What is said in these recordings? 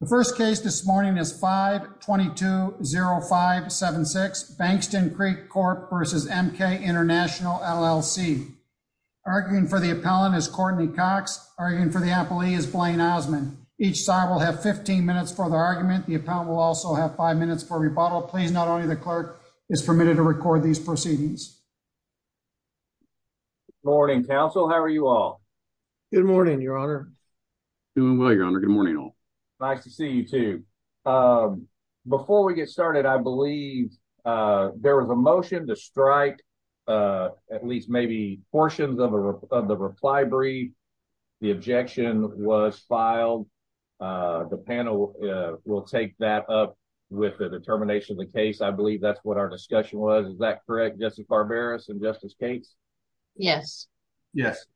The first case this morning is 5-220-576, Bankston Creek Corp. v. MK International, LLC. Arguing for the appellant is Courtney Cox. Arguing for the appellee is Blaine Osmond. Each side will have 15 minutes for the argument. The appellant will also have 5 minutes for rebuttal. Please note only the clerk is permitted to record these proceedings. Good morning, Counsel. How are you all? Good morning, Your Honor. Doing well, Your Honor. Good morning, all. Nice to see you, too. Before we get started, I believe there was a motion to strike at least maybe portions of the reply brief. The objection was filed. The panel will take that up with the determination of the case. I believe that's what our discussion was. Is that correct, Justice Barberos and Justice Cates? Yes. Yes.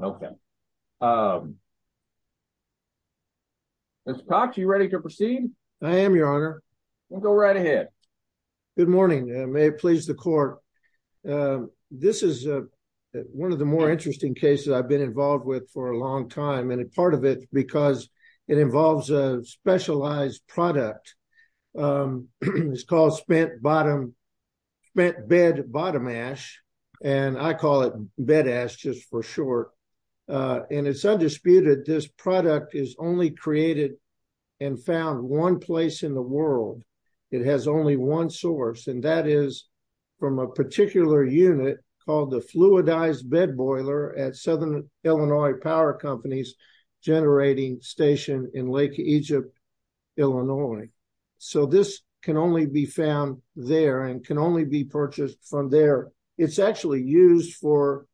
Okay. Ms. Cox, you ready to proceed? I am, Your Honor. We'll go right ahead. Good morning. May it please the court. This is one of the more interesting cases I've been involved with for a long time. And a part of it because it involves a specialized product. It's called spent bed bottom ash. And I call it bed ash just for short. And it's undisputed this product is only created and found one place in the world. It has only one source, and that is from a particular unit called the Fluidized Bed Boiler at Southern Illinois Power Company's generating station in Lake Egypt, Illinois. So this can only be found there and can only be purchased from there. It's actually used for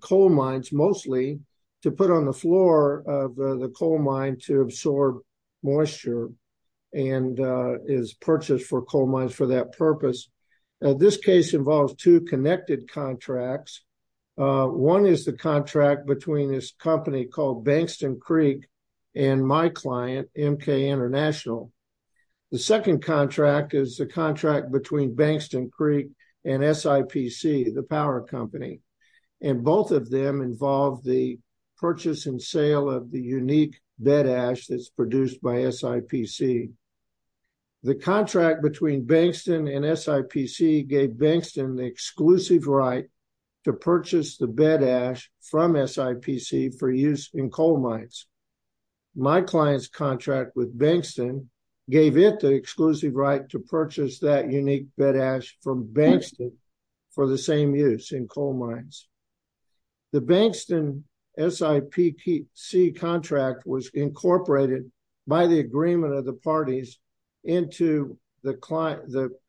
coal mines mostly to put on the floor of the coal mine to absorb moisture and is purchased for coal mines for that purpose. This case involves two connected contracts. One is the contract between this company called Bankston Creek and my client, MK International. The second contract is the contract between Bankston Creek and SIPC, the power company. And both of them involve the purchase and sale of the unique bed ash that's produced by SIPC. The contract between Bankston and SIPC gave Bankston the exclusive right to purchase the bed ash from SIPC for use in coal mines. My client's contract with Bankston gave it the exclusive right to purchase that unique bed ash from Bankston for the same use in coal mines. The Bankston SIPC contract was incorporated by the agreement of the parties into the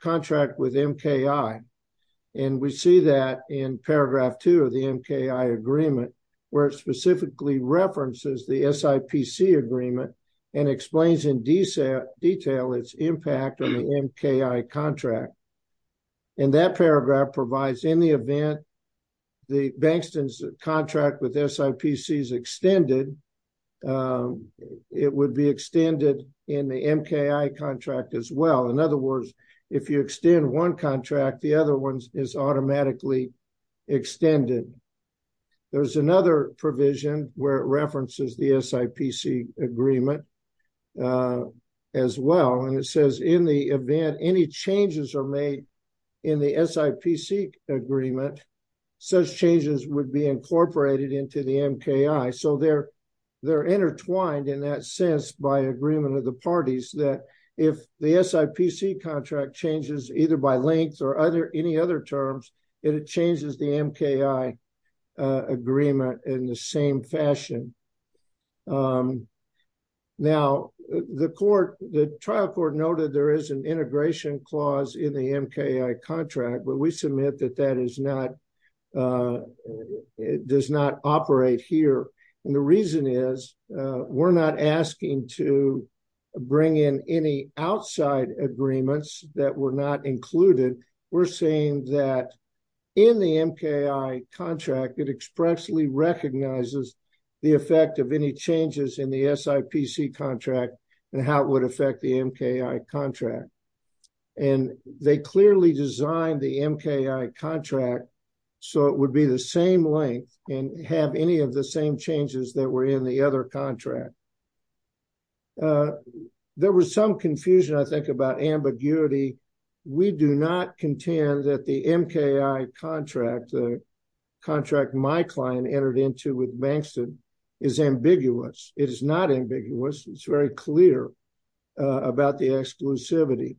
contract with MKI. And we see that in paragraph two of the MKI agreement where it specifically references the SIPC agreement and explains in detail its impact on the MKI contract. And that paragraph provides in the event the Bankston's contract with SIPC is extended, it would be extended in the MKI contract as well. In other words, if you extend one contract, the other one is automatically extended. There's another provision where it references the SIPC agreement as well. And it says in the event any changes are made in the SIPC agreement, such changes would be incorporated into the MKI. So they're intertwined in that sense by agreement of the parties that if the SIPC contract changes either by length or any other terms, it changes the MKI agreement in the same fashion. Now, the trial court noted there is an integration clause in the MKI contract, but we submit that that does not operate here. And the reason is we're not asking to bring in any outside agreements that were not included. We're saying that in the MKI contract, it expressly recognizes the effect of any changes in the SIPC contract and how it would affect the MKI contract. And they clearly designed the MKI contract so it would be the same length and have any of the same changes that were in the other contract. There was some confusion, I think, about ambiguity. We do not contend that the MKI contract, the contract my client entered into with Bankston, is ambiguous. It is not ambiguous. It's very clear about the exclusivity.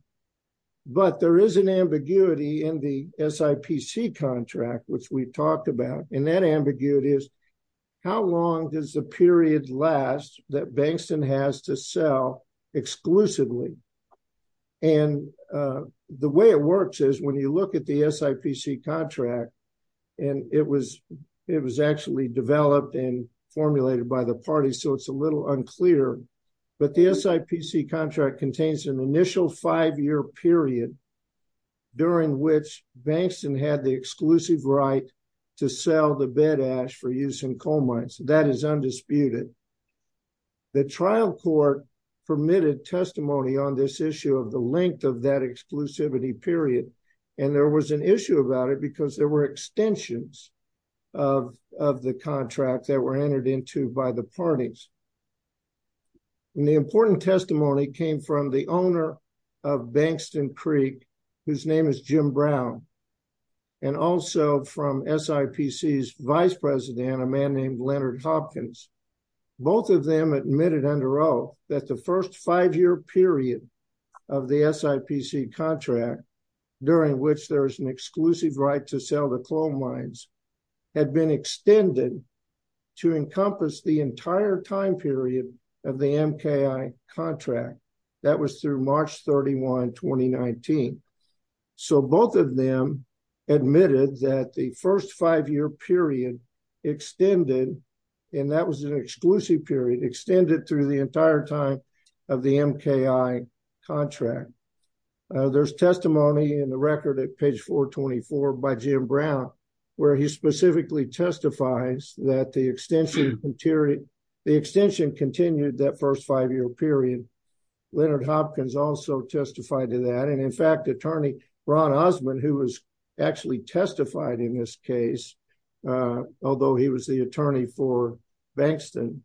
But there is an ambiguity in the SIPC contract, which we talked about, and that ambiguity is how long does the period last that Bankston has to sell exclusively? And the way it works is when you look at the SIPC contract, and it was actually developed and formulated by the party, so it's a little unclear, but the SIPC contract contains an initial five-year period during which Bankston had the exclusive right to sell the bed ash for use in coal mines. That is undisputed. The trial court permitted testimony on this issue of the length of that exclusivity period, and there was an issue about it because there were extensions of the contract that were entered into by the parties. And the important testimony came from the owner of Bankston Creek, whose name is Jim Brown, and also from SIPC's vice president, a man named Leonard Hopkins. Both of them admitted under oath that the first five-year period of the SIPC contract, during which there is an exclusive right to sell the coal mines, had been extended to encompass the entire time period of the MKI contract. That was through March 31, 2019. So both of them admitted that the first five-year period extended, and that was an exclusive period, extended through the entire time of the MKI contract. There's testimony in the record at page 424 by Jim Brown, where he specifically testifies that the extension continued that first five-year period. Leonard Hopkins also testified to that. And in fact, attorney Ron Osmond, who was actually testified in this case, although he was the attorney for Bankston,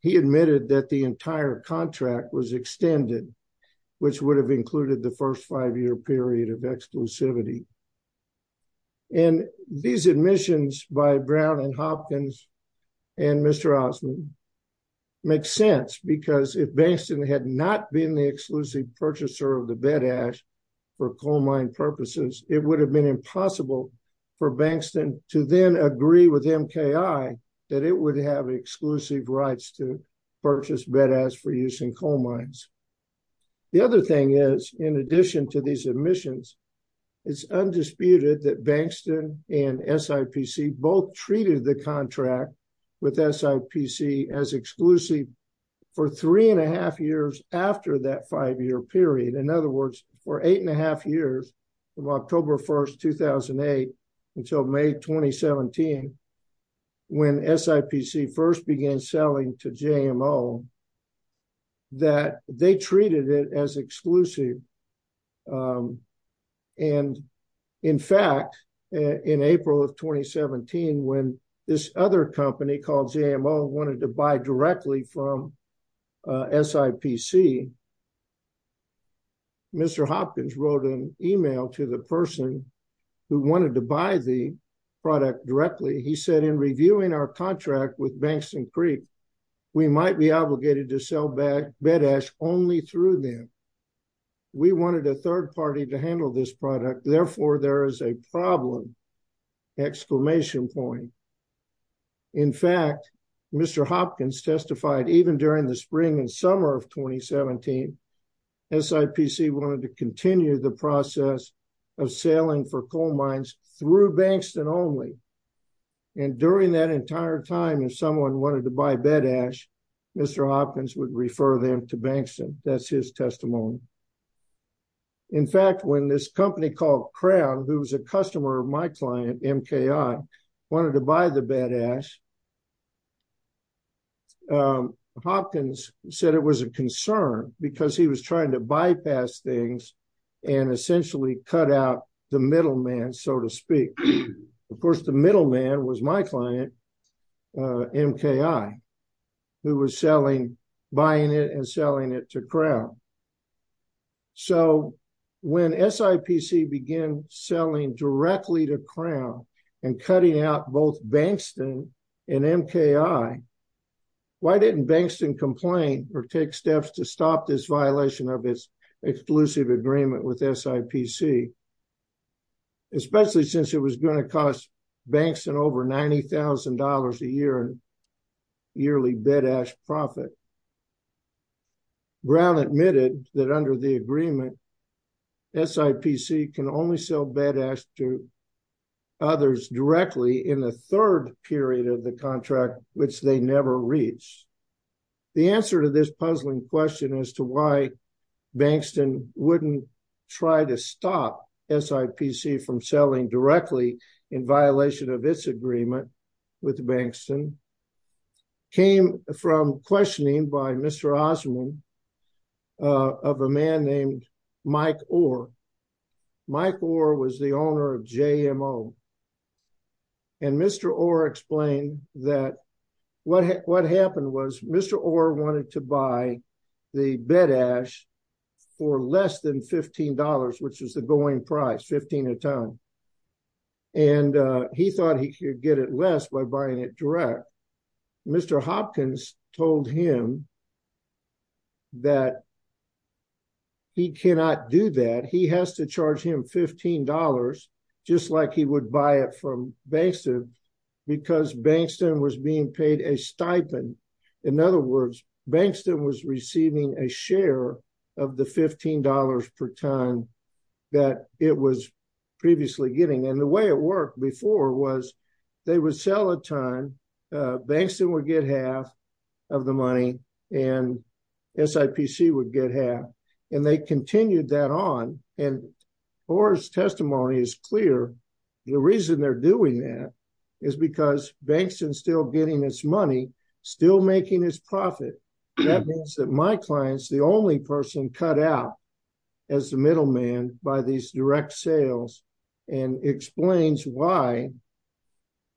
he admitted that the entire contract was extended, which would have included the first five-year period of exclusivity. And these admissions by Brown and Hopkins and Mr. Osmond make sense, because if Bankston had not been the exclusive purchaser of the bed ash for coal mine purposes, it would have been impossible for Bankston to then agree with MKI that it would have exclusive rights to purchase bed ash for use in coal mines. The other thing is, in addition to these admissions, it's undisputed that Bankston and SIPC both treated the contract with SIPC as exclusive for three-and-a-half years after that five-year period. In other words, for eight-and-a-half years, from October 1, 2008, until May 2017, when SIPC first began selling to JMO, that they treated it as exclusive. And in fact, in April of 2017, when this other company called JMO wanted to buy directly from SIPC, Mr. Hopkins wrote an email to the person who wanted to buy the product directly. He said, in reviewing our contract with Bankston Creek, we might be obligated to sell bed ash only through them. We wanted a third party to handle this product. Therefore, there is a problem, exclamation point. In fact, Mr. Hopkins testified, even during the spring and summer of 2017, SIPC wanted to continue the process of selling for coal mines through Bankston only. And during that entire time, if someone wanted to buy bed ash, Mr. Hopkins would refer them to Bankston. That's his testimony. In fact, when this company called Crown, who was a customer of my client, MKI, wanted to buy the bed ash, Hopkins said it was a concern because he was trying to bypass things and essentially cut out the middleman, so to speak. Of course, the middleman was my client, MKI, who was buying it and selling it to Crown. So when SIPC began selling directly to Crown and cutting out both Bankston and MKI, why didn't Bankston complain or take steps to stop this violation of its exclusive agreement with SIPC, especially since it was going to cost Bankston over $90,000 a year in yearly bed ash profit? Crown admitted that under the agreement, SIPC can only sell bed ash to others directly in the third period of the contract, which they never reach. The answer to this puzzling question as to why Bankston wouldn't try to stop SIPC from selling directly in violation of its agreement with Bankston came from questioning by Mr. Osman of a man named Mike Orr. Mike Orr was the owner of JMO. And Mr. Orr explained that what happened was Mr. Orr wanted to buy the bed ash for less than $15, which is the going price, 15 a ton. And he thought he could get it less by buying it direct. Mr. Hopkins told him that he cannot do that. He has to charge him $15 just like he would buy it from Bankston because Bankston was being paid a stipend. In other words, Bankston was receiving a share of the $15 per ton that it was previously getting. And the way it worked before was they would sell a ton, Bankston would get half of the money, and SIPC would get half. And they continued that on. And Orr's testimony is clear. The reason they're doing that is because Bankston's still getting its money, still making its profit. That means that my client's the only person cut out as the middleman by these direct sales and explains why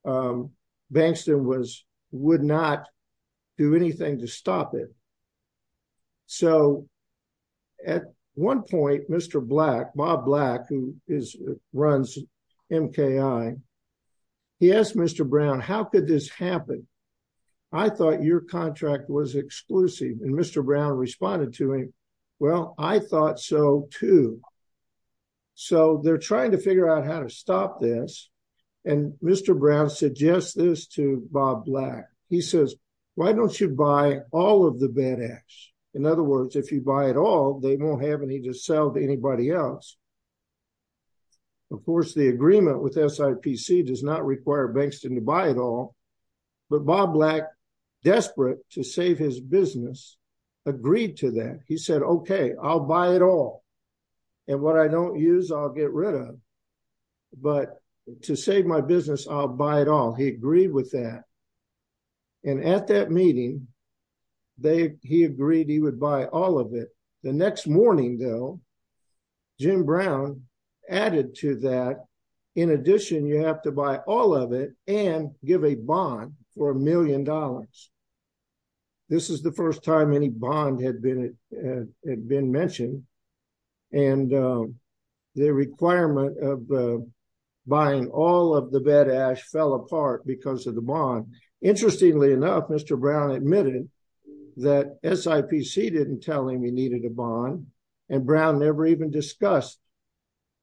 Bankston would not do anything to stop it. So at one point, Mr. Black, Bob Black, who runs MKI, he asked Mr. Brown, how could this happen? I thought your contract was exclusive. And Mr. Brown responded to me, well, I thought so too. So they're trying to figure out how to stop this. And Mr. Brown suggests this to Bob Black. He says, why don't you buy all of the bad acts? In other words, if you buy it all, they won't have any to sell to anybody else. Of course, the agreement with SIPC does not require Bankston to buy it all. But Bob Black, desperate to save his business, agreed to that. He said, okay, I'll buy it all. And what I don't use, I'll get rid of. But to save my business, I'll buy it all. He agreed with that. And at that meeting, he agreed he would buy all of it. The next morning, though, Jim Brown added to that, in addition, you have to buy all of it and give a bond for $1 million. This is the first time any bond had been mentioned. And the requirement of buying all of the bad acts fell apart because of the bond. Interestingly enough, Mr. Brown admitted that SIPC didn't tell him he needed a bond. And Brown never even discussed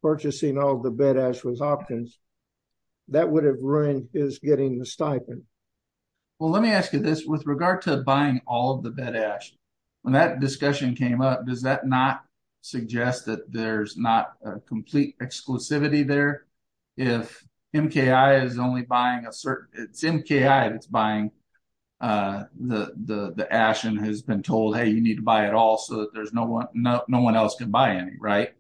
purchasing all the bad acts with options. That would have ruined his getting the stipend. Well, let me ask you this. With regard to buying all of the bad acts, when that discussion came up, does that not suggest that there's not a complete exclusivity there? If MKI is only buying a certain – it's MKI that's buying the ash and has been told, hey, you need to buy it all, so that no one else can buy any, right?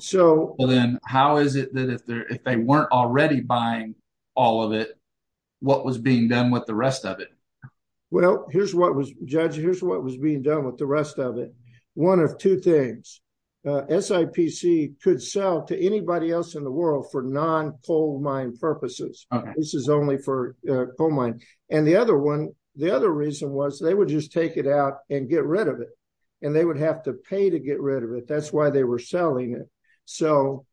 So then how is it that if they weren't already buying all of it, what was being done with the rest of it? Well, Judge, here's what was being done with the rest of it. One of two things. SIPC could sell to anybody else in the world for non-coal mine purposes. This is only for coal mine. And the other reason was they would just take it out and get rid of it, and they would have to pay to get rid of it. That's why they were selling it. So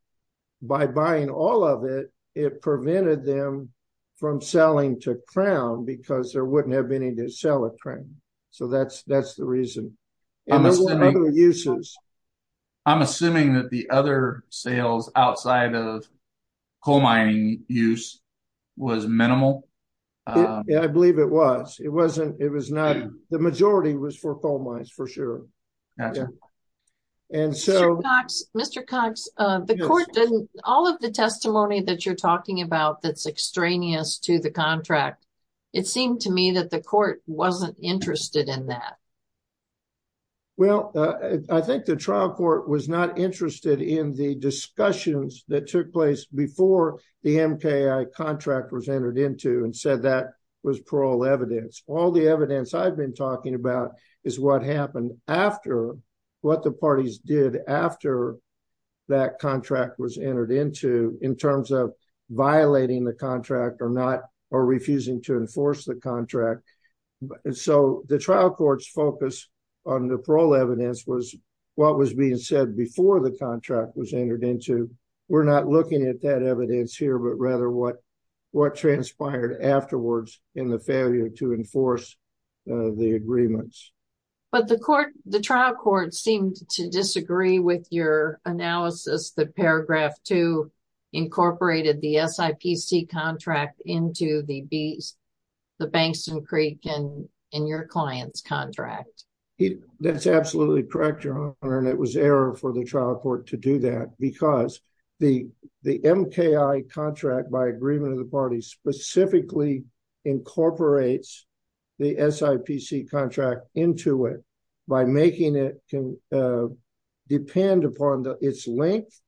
by buying all of it, it prevented them from selling to Crown because there wouldn't have been any to sell it, right? So that's the reason. And there's other uses. I'm assuming that the other sales outside of coal mining use was minimal. Yeah, I believe it was. It wasn't – it was not – the majority was for coal mines, for sure. Gotcha. Mr. Cox, the court didn't – all of the testimony that you're talking about that's extraneous to the contract, it seemed to me that the court wasn't interested in that. Well, I think the trial court was not interested in the discussions that took place before the MKI contract was entered into and said that was parole evidence. All the evidence I've been talking about is what happened after – what the parties did after that contract was entered into in terms of violating the contract or refusing to enforce the contract. So the trial court's focus on the parole evidence was what was being said before the contract was entered into. We're not looking at that evidence here, but rather what transpired afterwards in the failure to enforce the agreements. But the trial court seemed to disagree with your analysis, that Paragraph 2 incorporated the SIPC contract into the Bankston Creek and your client's contract. That's absolutely correct, Your Honor, and it was error for the trial court to do that because the MKI contract by agreement of the parties specifically incorporates the SIPC contract into it by making it depend upon its length.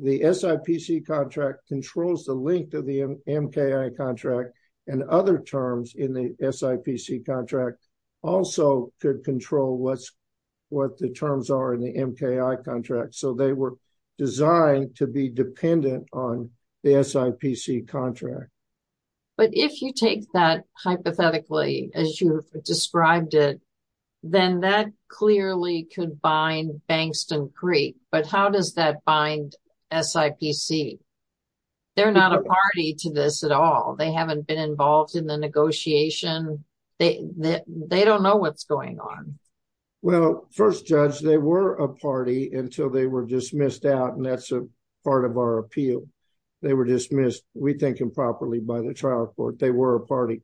The SIPC contract controls the length of the MKI contract, and other terms in the SIPC contract also could control what the terms are in the MKI contract. So they were designed to be dependent on the SIPC contract. But if you take that hypothetically as you've described it, then that clearly could bind Bankston Creek. But how does that bind SIPC? They're not a party to this at all. They haven't been involved in the negotiation. They don't know what's going on. Well, first, Judge, they were a party until they were dismissed out, and that's a part of our appeal. They were dismissed, we think, improperly by the trial court. They were a party.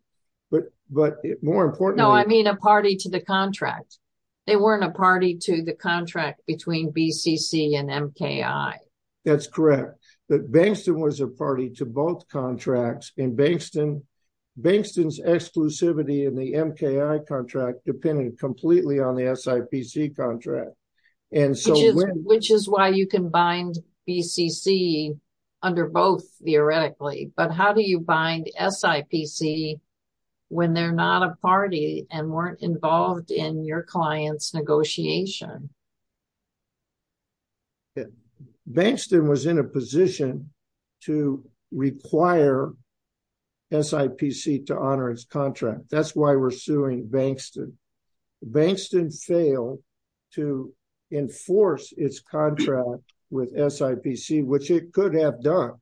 No, I mean a party to the contract. They weren't a party to the contract between BCC and MKI. That's correct. But Bankston was a party to both contracts, and Bankston's exclusivity in the MKI contract depended completely on the SIPC contract. Which is why you can bind BCC under both, theoretically. But how do you bind SIPC when they're not a party and weren't involved in your client's negotiation? Bankston was in a position to require SIPC to honor its contract. That's why we're suing Bankston. Bankston failed to enforce its contract with SIPC, which it could have done.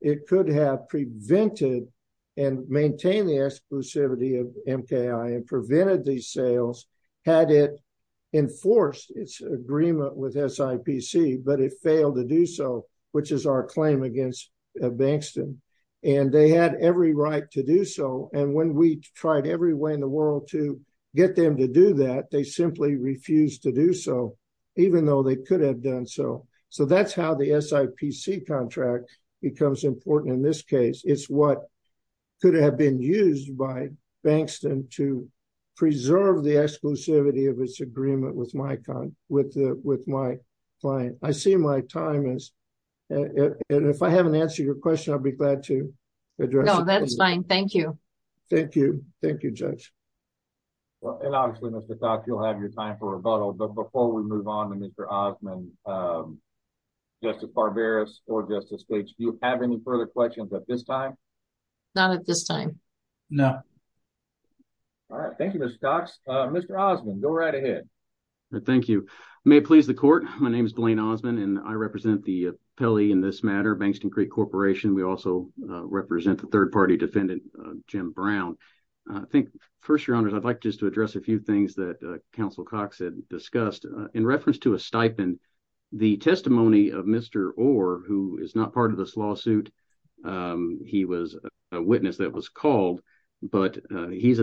It could have prevented and maintained the exclusivity of MKI and prevented these sales had it enforced its agreement with SIPC, but it failed to do so, which is our claim against Bankston. And they had every right to do so, and when we tried every way in the world to get them to do that, they simply refused to do so, even though they could have done so. So that's how the SIPC contract becomes important in this case. It's what could have been used by Bankston to preserve the exclusivity of its agreement with my client. I see my time is – and if I haven't answered your question, I'll be glad to address it. No, that's fine. Thank you. Thank you. Thank you, Judge. And obviously, Mr. Cox, you'll have your time for rebuttal, but before we move on to Mr. Osmond, Justice Barberis or Justice Gates, do you have any further questions at this time? Not at this time. No. All right. Thank you, Mr. Cox. Mr. Osmond, go right ahead. Thank you. May it please the court, my name is Blaine Osmond, and I represent the appellee in this matter, Bankston Creek Corporation. We also represent the third-party defendant, Jim Brown. I think, first, Your Honors, I'd like just to address a few things that Counsel Cox had discussed. In reference to a stipend, the testimony of Mr. Orr, who is not part of this lawsuit, he was a witness that was called, but he's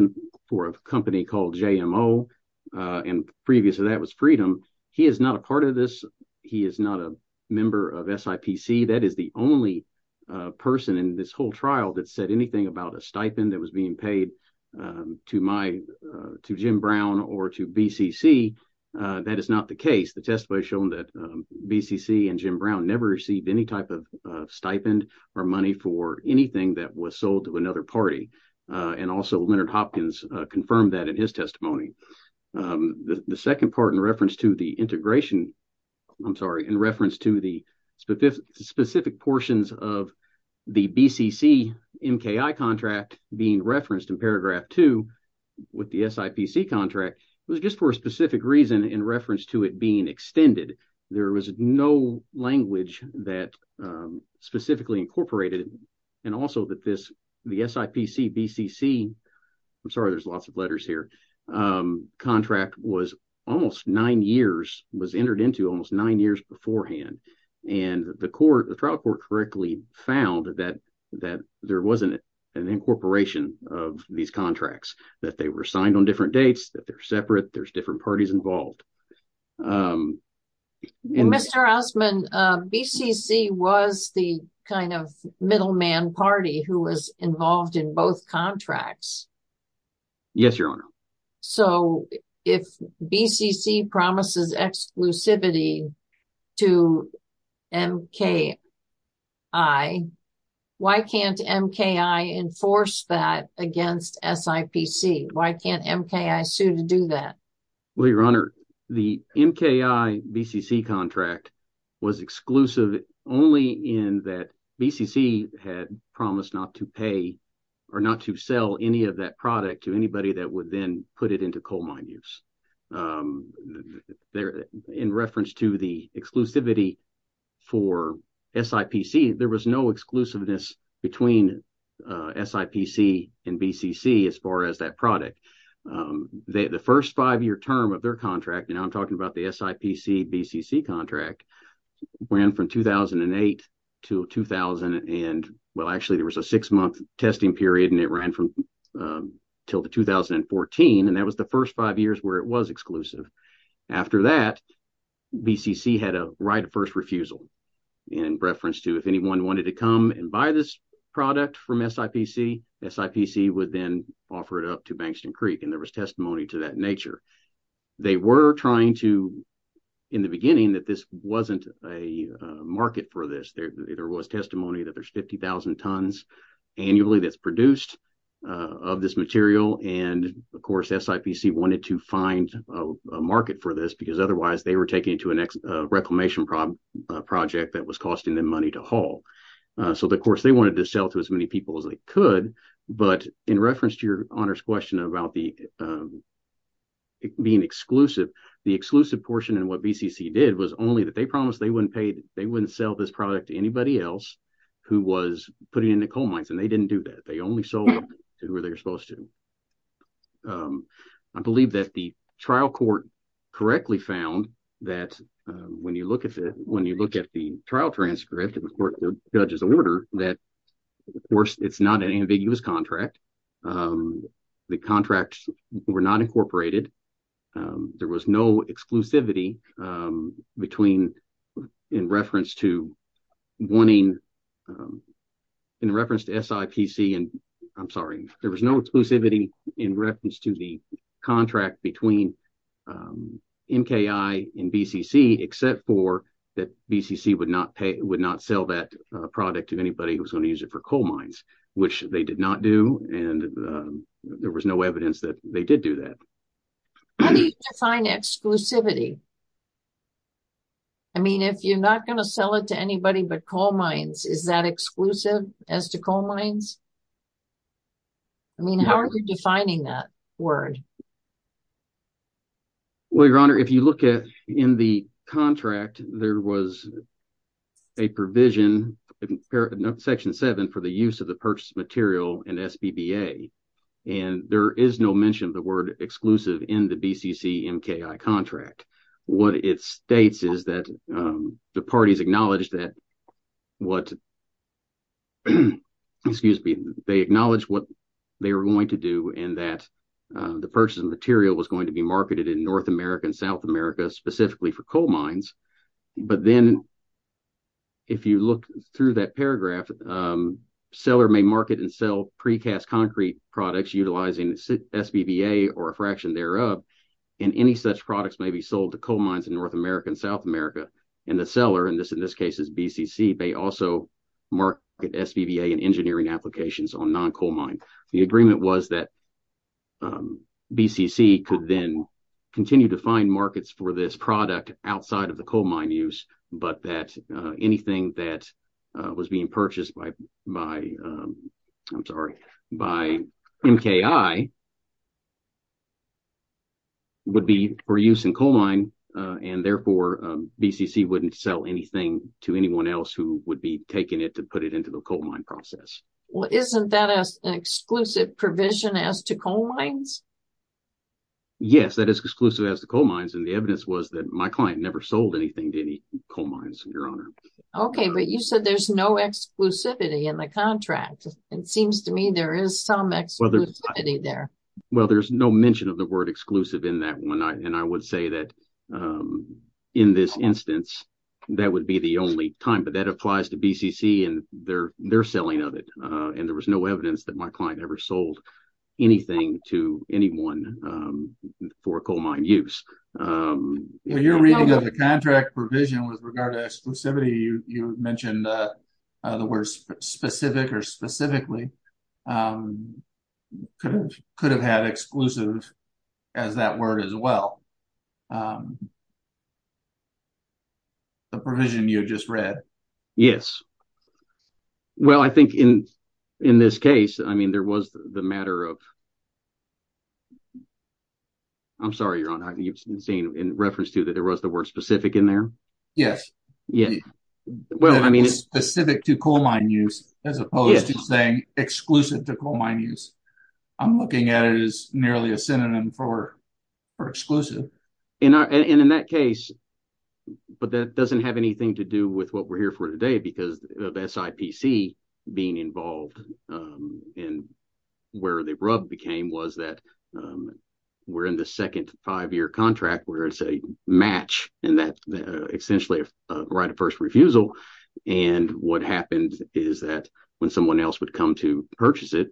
for a company called JMO, and previously that was Freedom. He is not a part of this. He is not a member of SIPC. That is the only person in this whole trial that said anything about a stipend that was being paid to Jim Brown or to BCC. That is not the case. The testimony has shown that BCC and Jim Brown never received any type of stipend or money for anything that was sold to another party, and also Leonard Hopkins confirmed that in his testimony. The second part in reference to the integration, I'm sorry, in reference to the specific portions of the BCC MKI contract being referenced in paragraph 2 with the SIPC contract was just for a specific reason in reference to it being extended. There was no language that specifically incorporated, and also that the SIPC BCC, I'm sorry, there's lots of letters here, contract was almost nine years, was entered into almost nine years beforehand, and the trial court correctly found that there wasn't an incorporation of these contracts, that they were signed on different dates, that they're separate, there's different parties involved. Mr. Osmond, BCC was the kind of middleman party who was involved in both contracts. Yes, Your Honor. So, if BCC promises exclusivity to MKI, why can't MKI enforce that against SIPC? Why can't MKI sue to do that? Well, Your Honor, the MKI BCC contract was exclusive only in that BCC had promised not to pay or not to sell any of that product to anybody that would then put it into coal mine use. In reference to the exclusivity for SIPC, there was no exclusiveness between SIPC and BCC as far as that product. The first five-year term of their contract, and I'm talking about the SIPC-BCC contract, ran from 2008 to 2000, and well, actually, there was a six-month testing period, and it ran till 2014, and that was the first five years where it was exclusive. After that, BCC had a right of first refusal in reference to if anyone wanted to come and buy this product from SIPC, SIPC would then offer it up to Bankston Creek, and there was testimony to that nature. They were trying to, in the beginning, that this wasn't a market for this. There was testimony that there's 50,000 tons annually that's produced of this material, and, of course, SIPC wanted to find a market for this because otherwise they were taking it to a reclamation project that was costing them money to haul. So, of course, they wanted to sell to as many people as they could, but in reference to your honors question about being exclusive, the exclusive portion in what BCC did was only that they promised they wouldn't sell this product to anybody else who was putting it in the coal mines, and they didn't do that. They only sold them to who they were supposed to. I believe that the trial court correctly found that when you look at the trial transcript and the court judge's order that, of course, it's not an ambiguous contract. The contracts were not incorporated. There was no exclusivity in reference to SIPC. I'm sorry. There was no exclusivity in reference to the contract between NKI and BCC except for that BCC would not sell that product to anybody who was going to use it for coal mines, which they did not do, and there was no evidence that they did do that. How do you define exclusivity? I mean, if you're not going to sell it to anybody but coal mines, is that exclusive as to coal mines? I mean, how are you defining that word? Well, Your Honor, if you look at in the contract, there was a provision in Section 7 for the use of the purchased material in SBBA, and there is no mention of the word exclusive in the BCC-MKI contract. What it states is that the parties acknowledged that what they were going to do and that the purchased material was going to be marketed in North America and South America specifically for coal mines, but then if you look through that paragraph, seller may market and sell precast concrete products utilizing SBBA or a fraction thereof, and any such products may be sold to coal mines in North America and South America, and the seller, and in this case it's BCC, may also market SBBA and engineering applications on non-coal mine. The agreement was that BCC could then continue to find markets for this product outside of the coal mine use, but that anything that was being purchased by MKI would be for use in coal mine, and therefore BCC wouldn't sell anything to anyone else who would be taking it to put it into the coal mine process. Well, isn't that an exclusive provision as to coal mines? Yes, that is exclusive as to coal mines, and the evidence was that my client never sold anything to any coal mines, Your Honor. Okay, but you said there's no exclusivity in the contract. It seems to me there is some exclusivity there. Well, there's no mention of the word exclusive in that one, and I would say that in this instance that would be the only time, but that applies to BCC and their selling of it, and there was no evidence that my client ever sold anything to anyone for coal mine use. When you're reading of the contract provision with regard to exclusivity, you mentioned the word specific or specifically could have had exclusive as that word as well. The provision you just read. Yes. Well, I think in this case, I mean, there was the matter of. I'm sorry, Your Honor. You've seen in reference to that there was the word specific in there? Yes. Yes. Well, I mean. Specific to coal mine use as opposed to saying exclusive to coal mine use. I'm looking at it as nearly a synonym for exclusive. And in that case, but that doesn't have anything to do with what we're here for today because of SIPC being involved and where the rub became was that we're in the second five-year contract where it's a match and that's essentially a right of first refusal. And what happens is that when someone else would come to purchase it,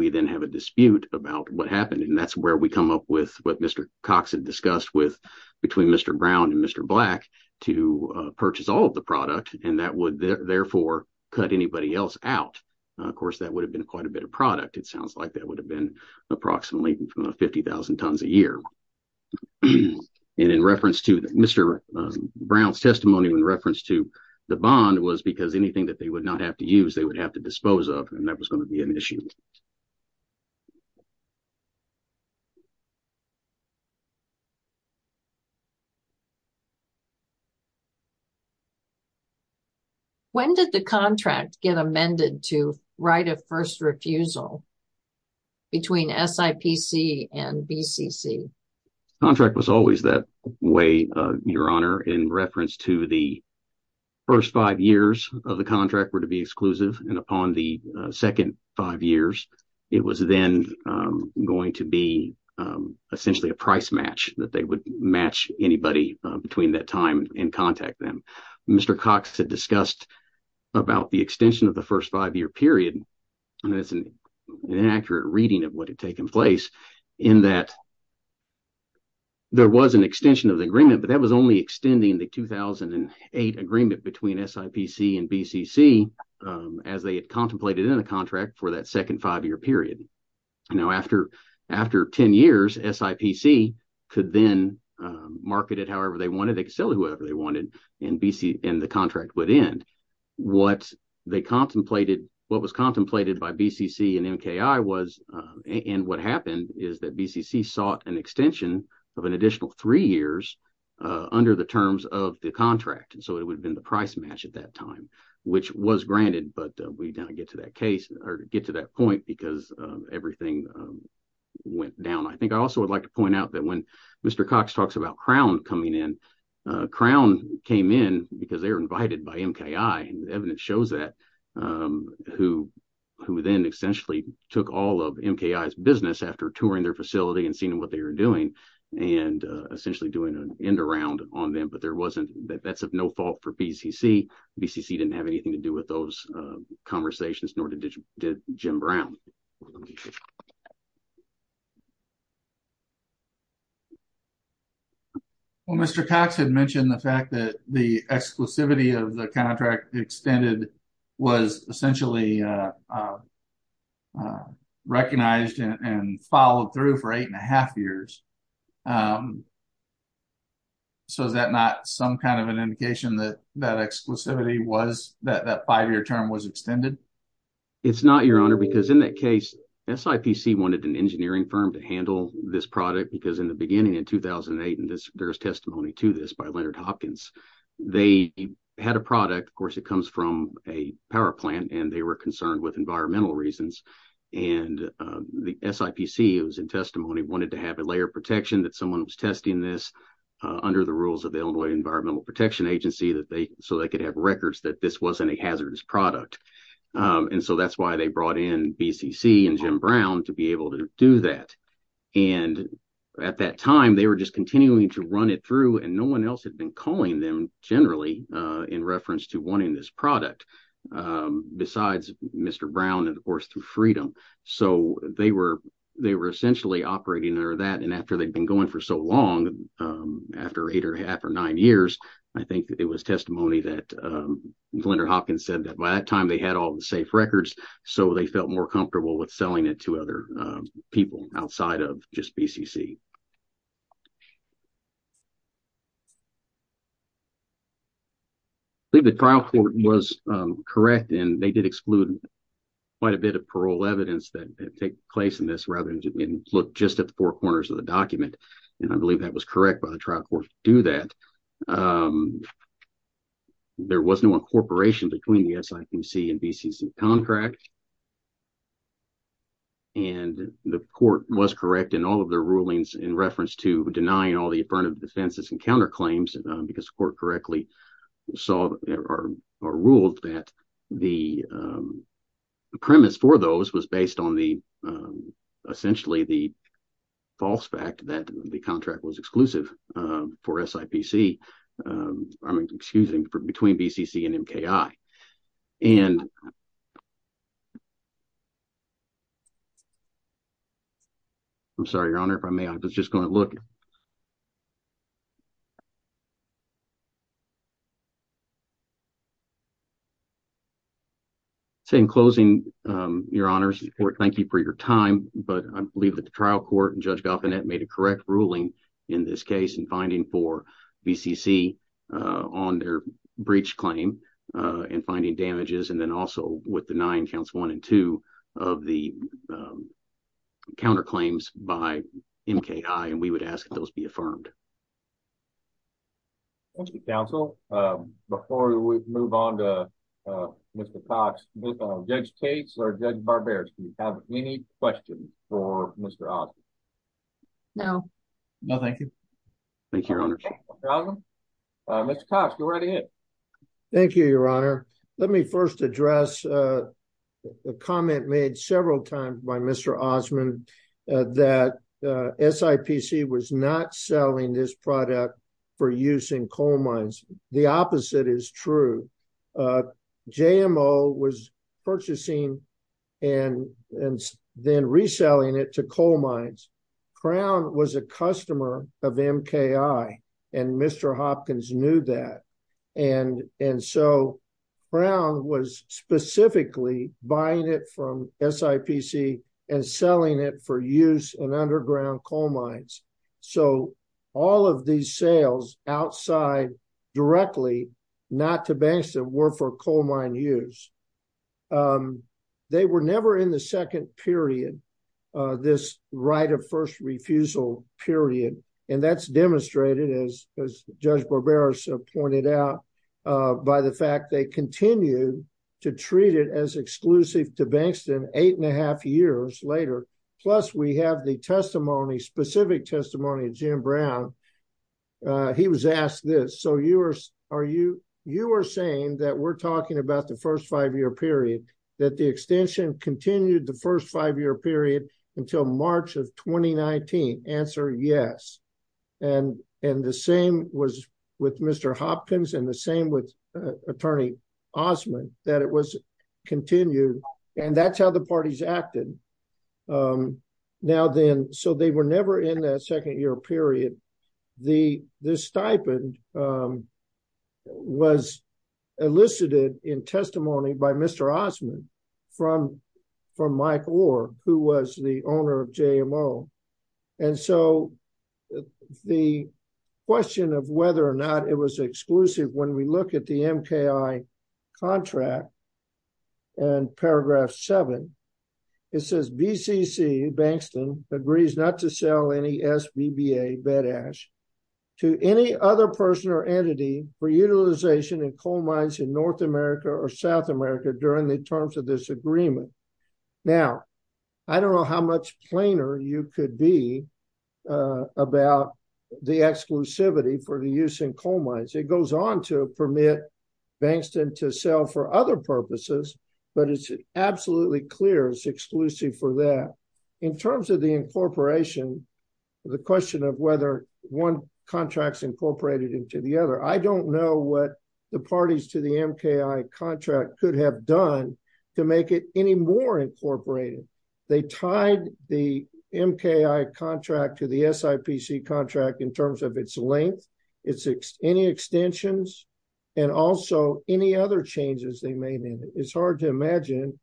we then have a dispute about what happened, and that's where we come up with what Mr. Cox had discussed with between Mr. Brown and Mr. Black to purchase all of the product. And that would therefore cut anybody else out. Of course, that would have been quite a bit of product. It sounds like that would have been approximately 50,000 tons a year. And in reference to Mr. Brown's testimony in reference to the bond was because anything that they would not have to use, they would have to dispose of. And that was going to be an issue. When did the contract get amended to write a first refusal? Between SIPC and BCC contract was always that way. Your Honor, in reference to the first five years of the contract were to be exclusive. And upon the second five years, it was then going to be essentially a price match, that they would match anybody between that time and contact them. Mr. Cox had discussed about the extension of the first five-year period. It's an inaccurate reading of what had taken place in that. There was an extension of the agreement, but that was only extending the 2008 agreement between SIPC and BCC as they contemplated in a contract for that second five-year period. Now, after after 10 years, SIPC could then market it however they wanted. And the contract would end. What they contemplated, what was contemplated by BCC and MKI was, and what happened is that BCC sought an extension of an additional three years under the terms of the contract. And so it would have been the price match at that time, which was granted. But we don't get to that case or get to that point because everything went down. I think I also would like to point out that when Mr. Cox talks about Crown coming in, Crown came in because they were invited by MKI. Evidence shows that, who then essentially took all of MKI's business after touring their facility and seeing what they were doing and essentially doing an end around on them. But there wasn't, that's of no fault for BCC. BCC didn't have anything to do with those conversations, nor did Jim Brown. Well, Mr. Cox had mentioned the fact that the exclusivity of the contract extended was essentially recognized and followed through for eight and a half years. So is that not some kind of an indication that that exclusivity was, that that five-year term was extended? It's not, Your Honor, because in that case, SIPC wanted an engineering firm to handle this product because in the beginning in 2008, and there's testimony to this by Leonard Hopkins, they had a product. Of course, it comes from a power plant and they were concerned with environmental reasons. And the SIPC, it was in testimony, wanted to have a layer of protection that someone was testing this under the rules of the Illinois Environmental Protection Agency that they, so they could have records that this wasn't a hazardous product. And so that's why they brought in BCC and Jim Brown to be able to do that. And at that time, they were just continuing to run it through and no one else had been calling them generally in reference to wanting this product, besides Mr. Brown and of course through Freedom. So they were, they were essentially operating under that. And after they'd been going for so long, after eight or half or nine years, I think it was testimony that Leonard Hopkins said that by that time they had all the safe records, so they felt more comfortable with selling it to other people outside of just BCC. I believe the trial court was correct and they did exclude quite a bit of parole evidence that take place in this rather than look just at the four corners of the document. And I believe that was correct by the trial court to do that. There was no incorporation between the SIPC and BCC contract. And the court was correct in all of their rulings in reference to denying all the affirmative defenses and counterclaims because the court correctly saw or ruled that the premise for those was based on the, essentially the false fact that the contract was exclusive for SIPC. I mean, excuse me, between BCC and MKI. And I'm sorry, Your Honor, if I may, I was just going to look. In closing, Your Honor, thank you for your time, but I believe that the trial court and Judge Gaufinet made a correct ruling in this case in finding for BCC on their breach claim and finding damages and then also with the nine counts, one and two of the counterclaims by MKI. And we would ask those be affirmed. Thank you, counsel. Before we move on to Mr. Cox, Judge Cates or Judge Barbera, do you have any questions for Mr. Osmond? No. No, thank you. Thank you, Your Honor. Mr. Cox, go right ahead. Thank you, Your Honor. Let me first address the comment made several times by Mr. Osmond that SIPC was not selling this product for use in coal mines. The opposite is true. JMO was purchasing and then reselling it to coal mines. Crown was a customer of MKI and Mr. Hopkins knew that. And so Crown was specifically buying it from SIPC and selling it for use in underground coal mines. So all of these sales outside directly, not to banks that were for coal mine use. They were never in the second period, this right of first refusal period. And that's demonstrated, as Judge Barbera pointed out, by the fact they continue to treat it as exclusive to Bankston eight and a half years later. Plus, we have the testimony, specific testimony of Jim Brown. He was asked this. So you are saying that we're talking about the first five year period, that the extension continued the first five year period until March of 2019? Answer, yes. And the same was with Mr. Hopkins and the same with Attorney Osmond, that it was continued. And that's how the parties acted. Now then, so they were never in that second year period. This stipend was elicited in testimony by Mr. Osmond from Mike Orr, who was the owner of JMO. And so the question of whether or not it was exclusive, when we look at the MKI contract and paragraph seven, it says BCC, Bankston, agrees not to sell any SBBA bedash to any other person or entity for utilization in coal mines in North America or South America during the terms of this agreement. Now, I don't know how much plainer you could be about the exclusivity for the use in coal mines. It goes on to permit Bankston to sell for other purposes, but it's absolutely clear it's exclusive for that. In terms of the incorporation, the question of whether one contract's incorporated into the other, I don't know what the parties to the MKI contract could have done to make it any more incorporated. They tied the MKI contract to the SIPC contract in terms of its length, any extensions, and also any other changes they made in it. It's hard to imagine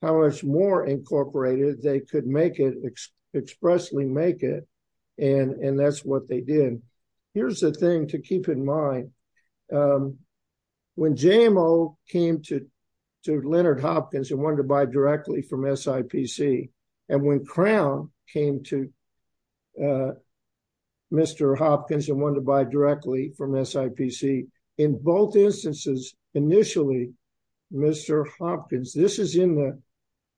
how much more incorporated they could expressly make it, and that's what they did. Here's the thing to keep in mind. When JMO came to Leonard Hopkins and wanted to buy directly from SIPC, and when Crown came to Mr. Hopkins and wanted to buy directly from SIPC, in both instances, initially, Mr. Hopkins, this is in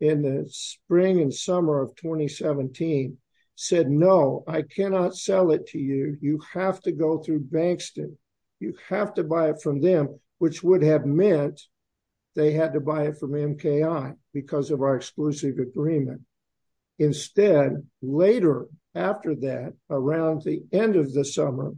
the spring and summer of 2017, said, No, I cannot sell it to you. You have to go through Bankston. You have to buy it from them, which would have meant they had to buy it from MKI because of our exclusive agreement. Instead, later after that, around the end of the summer,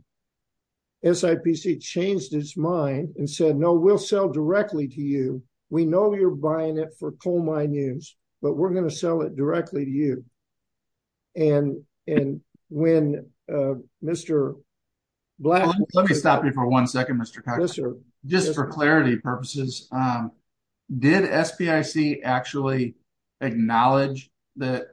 SIPC changed its mind and said, No, we'll sell directly to you. We know you're buying it for coal mine use, but we're going to sell it directly to you. Let me stop you for one second, Mr. Cox. Just for clarity purposes, did SIPC actually acknowledge that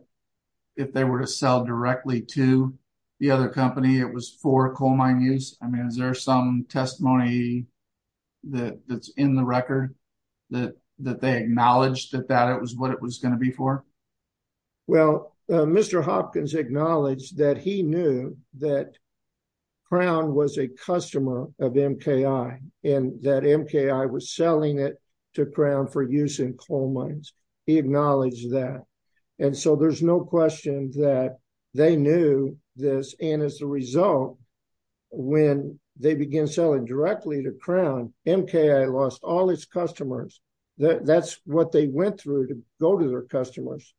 if they were to sell directly to the other company, it was for coal mine use? Is there some testimony that's in the record that they acknowledged that that was what it was going to be for? Well, Mr. Hopkins acknowledged that he knew that Crown was a customer of MKI and that MKI was selling it to Crown for use in coal mines. He acknowledged that. And so there's no question that they knew this. And as a result, when they began selling directly to Crown, MKI lost all its customers. That's what they went through to go to their customers.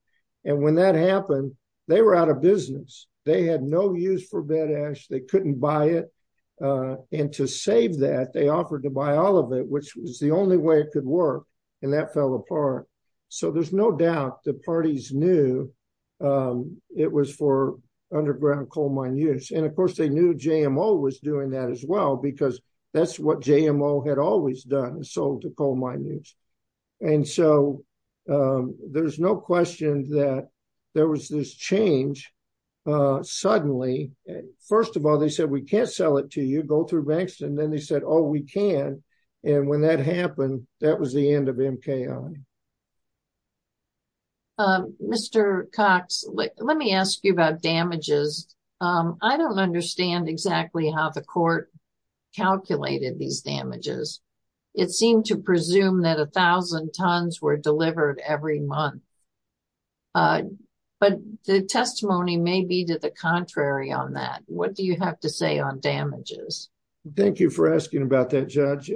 And when that happened, they were out of business. They had no use for Bedash. They couldn't buy it. And to save that, they offered to buy all of it, which was the only way it could work. And that fell apart. So there's no doubt the parties knew it was for underground coal mine use. And of course, they knew JMO was doing that as well, because that's what JMO had always done, sold to coal mine use. And so there's no question that there was this change suddenly. First of all, they said, we can't sell it to you, go through Bankston. Then they said, oh, we can. And when that happened, that was the end of MKI. Mr. Cox, let me ask you about damages. I don't understand exactly how the court calculated these damages. It seemed to presume that 1,000 tons were delivered every month. But the testimony may be to the contrary on that. What do you have to say on damages? Thank you for asking about that, Judge.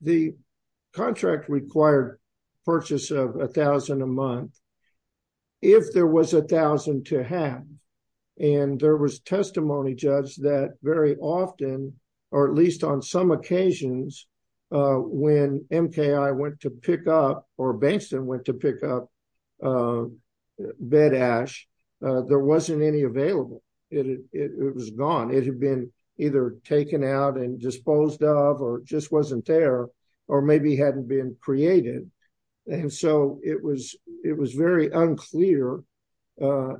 The contract required purchase of 1,000 a month. If there was 1,000 to have, and there was testimony, Judge, that very often, or at least on some occasions, when MKI went to pick up or Bankston went to pick up Bedash, there wasn't any available. It was gone. It had been either taken out and disposed of or just wasn't there, or maybe hadn't been created. And so it was very unclear. And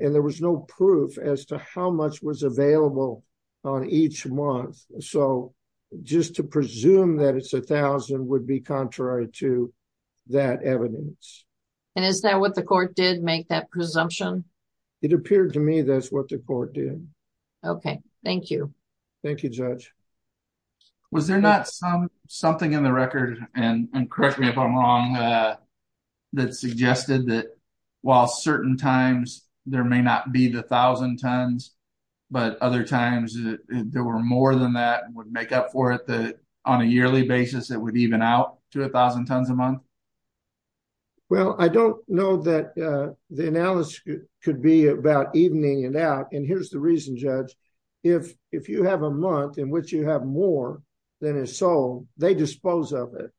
there was no proof as to how much was available on each month. So just to presume that it's 1,000 would be contrary to that evidence. And is that what the court did make that presumption? It appeared to me that's what the court did. Okay, thank you. Thank you, Judge. Was there not something in the record, and correct me if I'm wrong, that suggested that while certain times there may not be the 1,000 tons, but other times there were more than that would make up for it on a yearly basis that would even out to 1,000 tons a month? Well, I don't know that the analysis could be about evening it out. And here's the reason, Judge. If you have a month in which you have more than is sold, they dispose of it.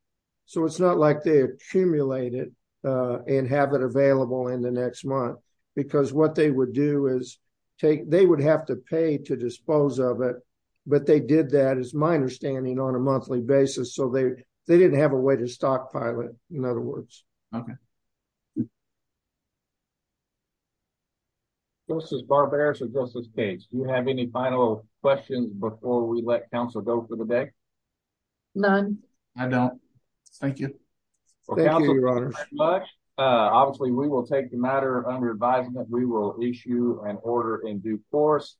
So it's not like they accumulate it and have it available in the next month. Because what they would do is take, they would have to pay to dispose of it. But they did that as my understanding on a monthly basis so they didn't have a way to stockpile it, in other words. Okay. Thank you. Justice Barberis or Justice Cates, do you have any final questions before we let counsel go for the day? None. I don't. Thank you. Thank you, Your Honor. Obviously, we will take the matter under advisement, we will issue an order in due course.